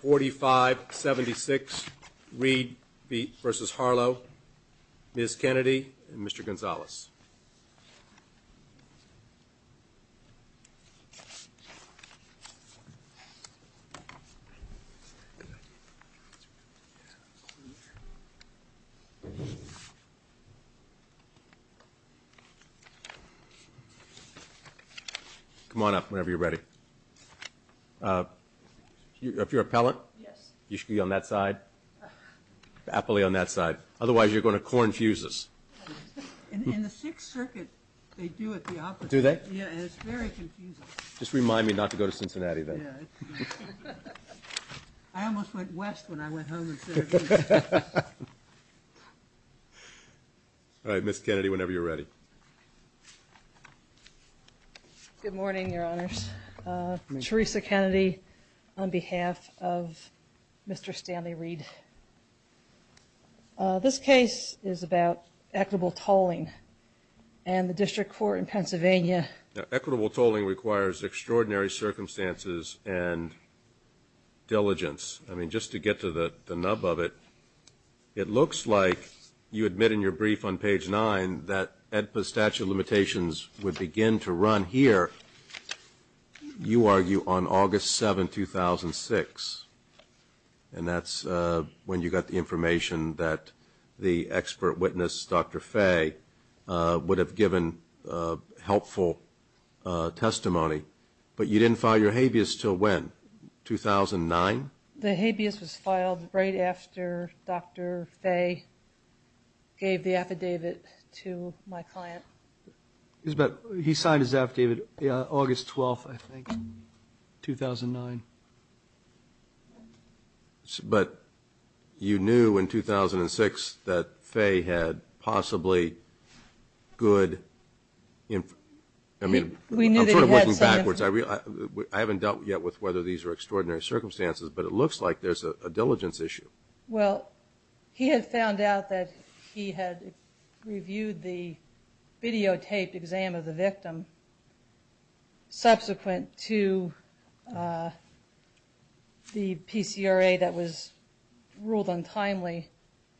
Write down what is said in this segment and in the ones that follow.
4576 Reed v. Harlow, Ms. Kennedy, and Mr. Gonzalez. Come on up whenever you're ready. If you're an appellant, you should be on that side, aptly on that side, otherwise you're going to corn fuses. In the Sixth Circuit, they do it the opposite. Do they? Yeah, and it's very confusing. Just remind me not to go to Cincinnati then. Yeah. I almost went west when I went home instead of east. All right, Ms. Kennedy, whenever you're ready. Good morning, Your Honors. Theresa Kennedy on behalf of Mr. Stanley Reed. This case is about equitable tolling, and the District Court in Pennsylvania. Equitable tolling requires extraordinary circumstances and diligence. I mean, just to get to the nub of it, it looks like you admit in your brief on page nine that AEDPA statute of limitations would begin to run here, you argue, on August 7, 2006. And that's when you got the information that the expert witness, Dr. Fay, would have given helpful testimony. But you didn't file your habeas until when? 2009? The habeas was filed right after Dr. Fay gave the affidavit to my client. He signed his affidavit August 12, I think, in 2009. But you knew in 2006 that Fay had possibly good information. I mean, I'm sort of working backwards. I haven't dealt yet with whether these are extraordinary circumstances, but it looks like there's a diligence issue. Well, he had found out that he had reviewed the videotaped exam of the victim subsequent to the PCRA that was ruled untimely,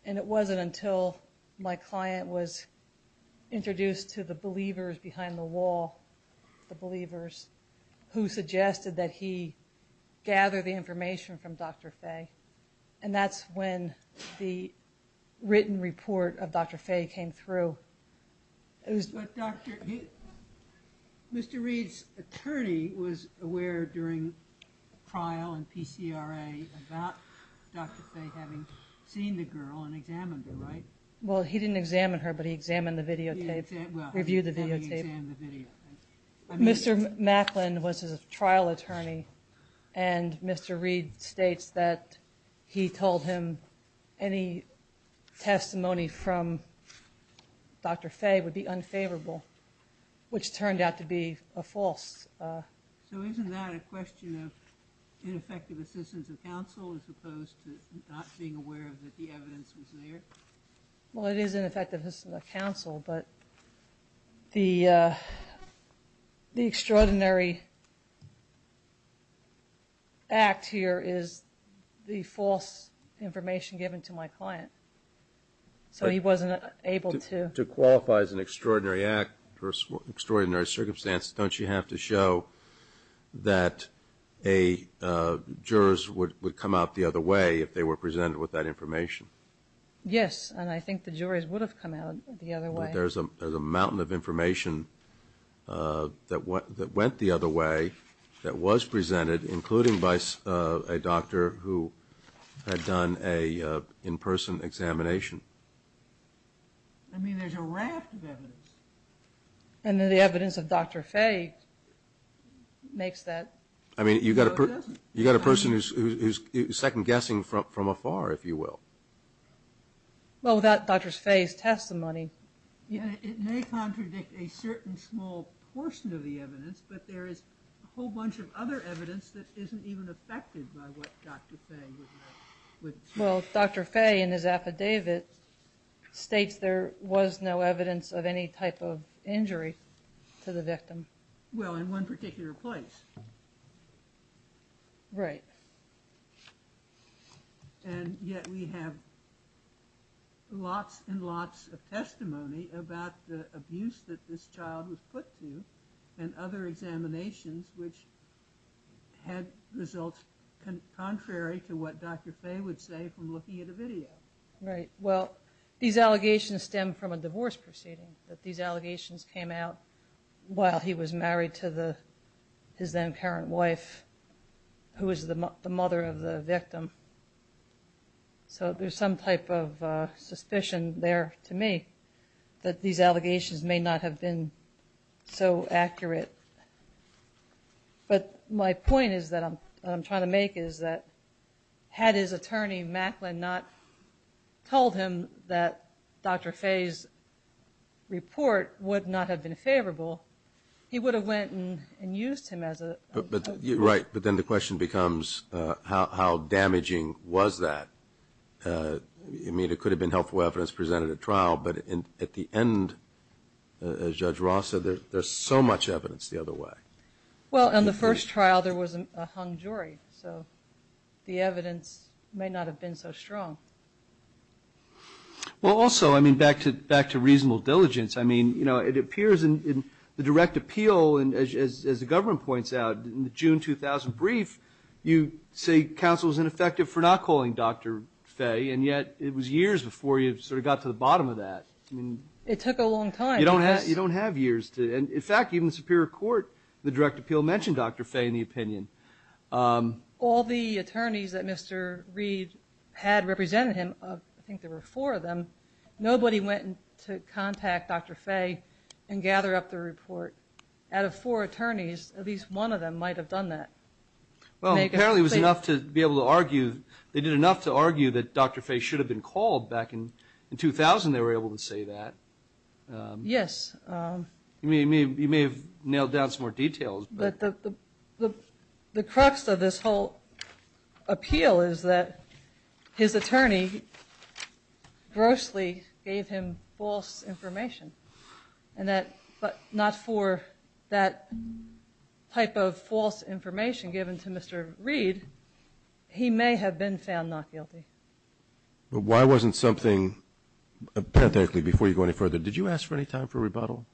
and it wasn't until my client was introduced to the believers behind the wall, the believers, who suggested that he gather the information from Dr. Fay. And that's when the written report of Dr. Fay came through. But Dr. Fay, Mr. Reed's attorney was aware during trial and PCRA about Dr. Fay having seen the girl and examined her, right? Well, he didn't examine her, but he examined the videotape, reviewed the videotape. Mr. Macklin was his trial attorney, and Mr. Reed states that he told him any testimony from Dr. Fay would be unfavorable, which turned out to be a false. So isn't that a question of ineffective assistance of counsel as opposed to not being aware that the evidence was there? Well, it is ineffective assistance of counsel, but the extraordinary act here is the false information given to my client. So he wasn't able to. To qualify as an extraordinary act or extraordinary circumstance, don't you have to show that jurors would come out the other way if they were presented with that information? Yes, and I think the jurors would have come out the other way. But there's a mountain of information that went the other way that was presented, including by a doctor who had done an in-person examination. I mean, there's a raft of evidence. And the evidence of Dr. Fay makes that. I mean, you've got a person who's second-guessing from afar, if you will. Well, without Dr. Fay's testimony. It may contradict a certain small portion of the evidence, but there is a whole bunch of other evidence that isn't even affected by what Dr. Fay would say. Well, Dr. Fay in his affidavit states there was no evidence of any type of injury to the victim. Well, in one particular place. Right. And yet we have lots and lots of testimony about the abuse that this child was put to and other examinations which had results contrary to what Dr. Fay would say from looking at a video. Right. Well, these allegations stem from a divorce proceeding. These allegations came out while he was married to his then-parent wife, who was the mother of the victim. So there's some type of suspicion there to me that these allegations may not have been so accurate. But my point is that I'm trying to make is that had his attorney, Macklin, not told him that Dr. Fay's report would not have been favorable, he would have went and used him as a. Right, but then the question becomes how damaging was that? I mean, it could have been helpful evidence presented at trial, but at the end, as Judge Ross said, there's so much evidence the other way. Well, on the first trial there was a hung jury, so the evidence may not have been so strong. Well, also, I mean, back to reasonable diligence, I mean, you know, it appears in the direct appeal, as the government points out, in the June 2000 brief, you say counsel is ineffective for not calling Dr. Fay, and yet it was years before you sort of got to the bottom of that. It took a long time. You don't have years. And, in fact, even the Superior Court, the direct appeal, mentioned Dr. Fay in the opinion. All the attorneys that Mr. Reed had represented him, I think there were four of them, nobody went to contact Dr. Fay and gather up the report. Out of four attorneys, at least one of them might have done that. Well, apparently it was enough to be able to argue, they did enough to argue that Dr. Fay should have been called back in 2000 they were able to say that. Yes. You may have nailed down some more details. The crux of this whole appeal is that his attorney grossly gave him false information, but not for that type of false information given to Mr. Reed. He may have been found not guilty. But why wasn't something, parenthetically, before you go any further, did you ask for any time for rebuttal?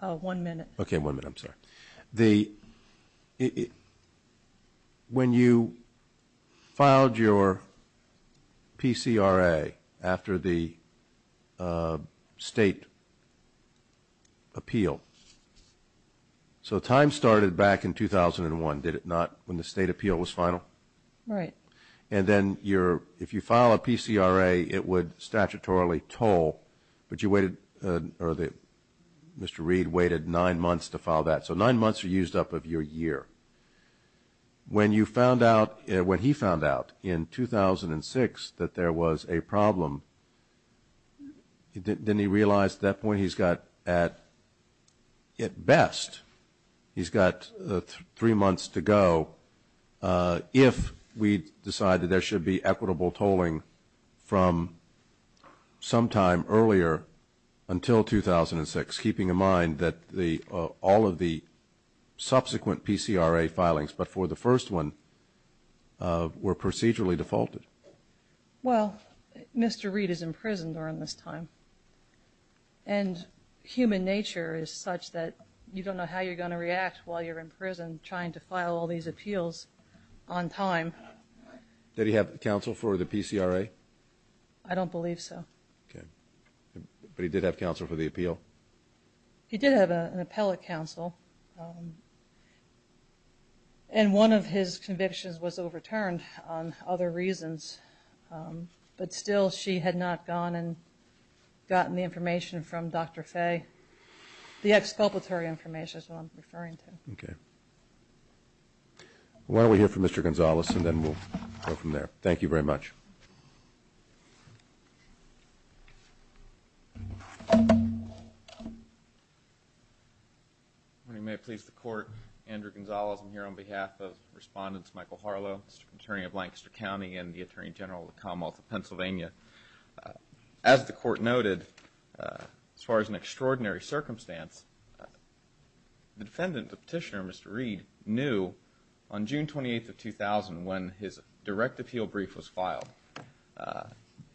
One minute. Okay, one minute. I'm sorry. When you filed your PCRA after the state appeal, so time started back in 2001, did it not, when the state appeal was final? Right. And then if you file a PCRA, it would statutorily toll, but you waited, or Mr. Reed waited nine months to file that. So nine months are used up of your year. When you found out, when he found out in 2006 that there was a problem, didn't he realize at that point he's got at best, he's got three months to go, if we decide that there should be equitable tolling from sometime earlier until 2006, keeping in mind that all of the subsequent PCRA filings before the first one were procedurally defaulted? Well, Mr. Reed is in prison during this time, and human nature is such that you don't know how you're going to react while you're in prison and trying to file all these appeals on time. Did he have counsel for the PCRA? I don't believe so. Okay. But he did have counsel for the appeal? He did have an appellate counsel, and one of his convictions was overturned on other reasons, but still she had not gone and gotten the information from Dr. Fay, the exculpatory information is what I'm referring to. Okay. Why don't we hear from Mr. Gonzales and then we'll go from there. Thank you very much. If you may please the Court, Andrew Gonzales. I'm here on behalf of Respondents Michael Harlow, Mr. Attorney of Lancaster County, and the Attorney General of the Commonwealth of Pennsylvania. As the Court noted, as far as an extraordinary circumstance, the defendant, the petitioner, Mr. Reed, knew on June 28th of 2000 when his direct appeal brief was filed.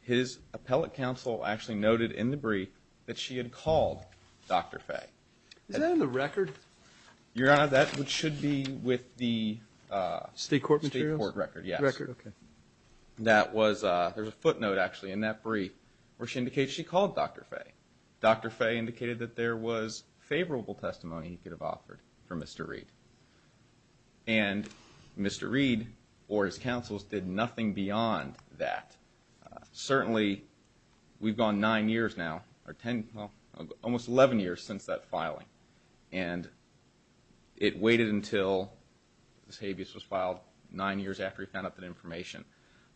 His appellate counsel actually noted in the brief that she had called Dr. Fay. Is that in the record? Your Honor, that should be with the State Court record, yes. The record, okay. There's a footnote actually in that brief where she indicates she called Dr. Fay. Dr. Fay indicated that there was favorable testimony he could have offered for Mr. Reed, and Mr. Reed or his counsels did nothing beyond that. Certainly, we've gone nine years now, almost 11 years since that filing, and it waited until Ms. Habeas was filed nine years after he found out that information.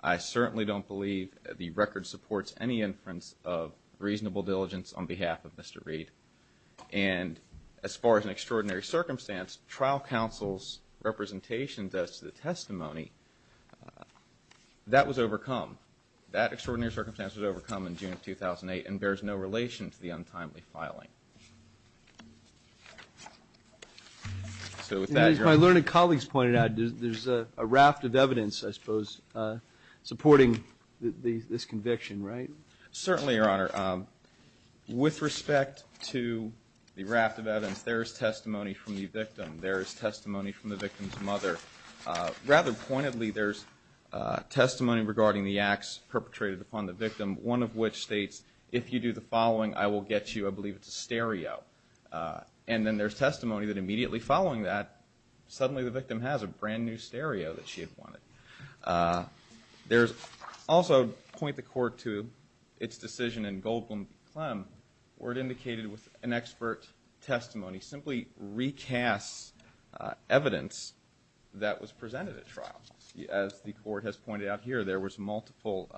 I certainly don't believe the record supports any inference of reasonable diligence on behalf of Mr. Reed. And as far as an extraordinary circumstance, trial counsel's representation does to the testimony. That was overcome. That extraordinary circumstance was overcome in June of 2008 and bears no relation to the untimely filing. So with that, Your Honor. As my learned colleagues pointed out, there's a raft of evidence, I suppose, supporting this conviction, right? Certainly, Your Honor. With respect to the raft of evidence, there is testimony from the victim. There is testimony from the victim's mother. Rather pointedly, there's testimony regarding the acts perpetrated upon the victim, one of which states, if you do the following, I will get you, I believe it's a stereo. And then there's testimony that immediately following that, suddenly the victim has a brand new stereo that she had wanted. There's also, point the court to its decision in Goldblum v. Clem, where it indicated with an expert testimony simply recasts evidence that was presented at trial. As the court has pointed out here, there was multiple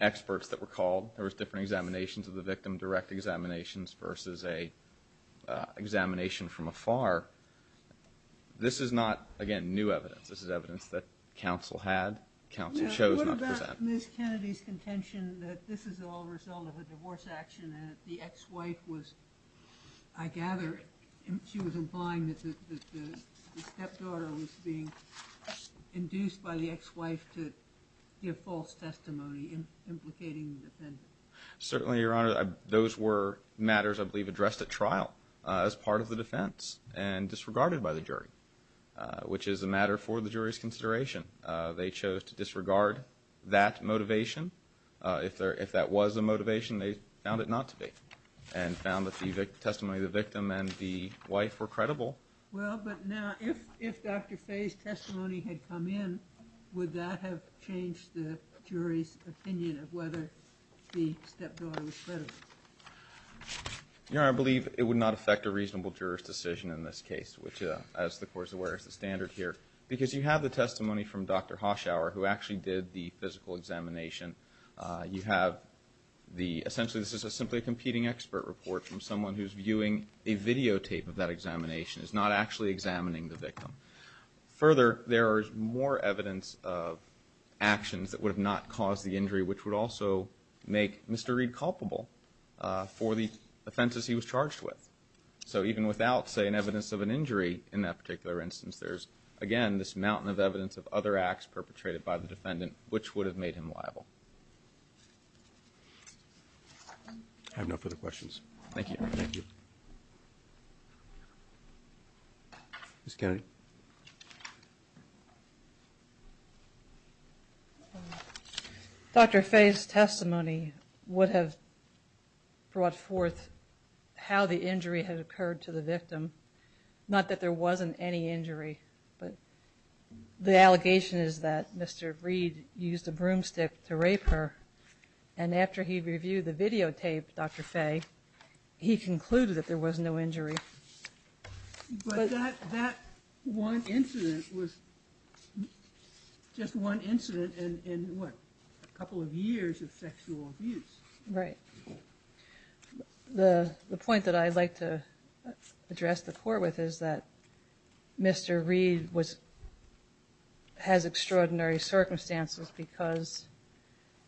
experts that were called. There was different examinations of the victim, direct examinations versus an examination from afar. This is not, again, new evidence. This is evidence that counsel had, counsel chose not to present. Ms. Kennedy's contention that this is all a result of a divorce action and that the ex-wife was, I gather, she was implying that the stepdaughter was being induced by the ex-wife to give false testimony implicating the defendant. Certainly, Your Honor. Those were matters, I believe, addressed at trial as part of the defense and disregarded by the jury, which is a matter for the jury's consideration. They chose to disregard that motivation. If there, if that was a motivation, they found it not to be and found that the testimony of the victim and the wife were credible. Well, but now, if Dr. Fay's testimony had come in, would that have changed the jury's opinion of whether the stepdaughter was credible? Your Honor, I believe it would not affect a reasonable juror's decision in this case, which, as the Court is aware, is the standard here, because you have the testimony from Dr. Hoshauer, who actually did the physical examination. You have the, essentially, this is simply a competing expert report from someone who's viewing a videotape of that examination, is not actually examining the victim. Further, there is more evidence of actions that would have not caused the injury, which would also make Mr. Reed culpable for the offenses he was charged with. So even without, say, an evidence of an injury in that particular instance, there's, again, this mountain of evidence of other acts perpetrated by the defendant, which would have made him liable. I have no further questions. Thank you. Thank you. Ms. Kennedy. Thank you. Dr. Fay's testimony would have brought forth how the injury had occurred to the victim, not that there wasn't any injury, but the allegation is that Mr. Reed used a broomstick to rape her, and after he reviewed the videotape, Dr. Fay, he concluded that there was no injury. But that one incident was just one incident in, what, a couple of years of sexual abuse. Right. The point that I'd like to address the court with is that Mr. Reed has extraordinary circumstances because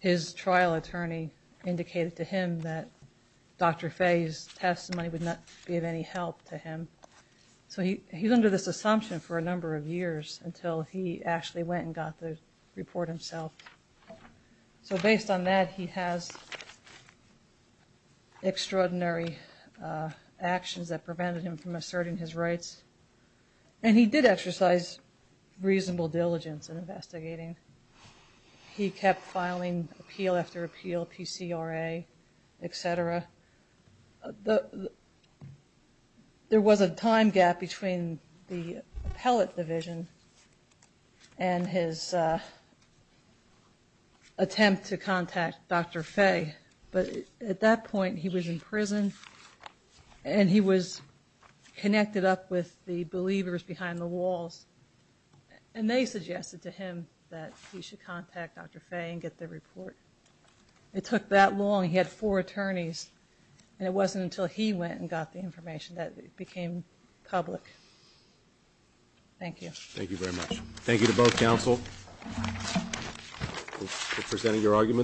his trial attorney indicated to him that Dr. Fay's testimony would not be of any help to him. So he's under this assumption for a number of years until he actually went and got the report himself. So based on that, he has extraordinary actions that prevented him from asserting his rights, and he did exercise reasonable diligence in investigating. He kept filing appeal after appeal, PCRA, et cetera. There was a time gap between the appellate division and his attempt to contact Dr. Fay, but at that point he was in prison and he was connected up with the believers behind the walls, and they suggested to him that he should contact Dr. Fay and get the report. It took that long. He had four attorneys, and it wasn't until he went and got the information that it became public. Thank you. Thank you very much. Thank you to both counsel for presenting your arguments.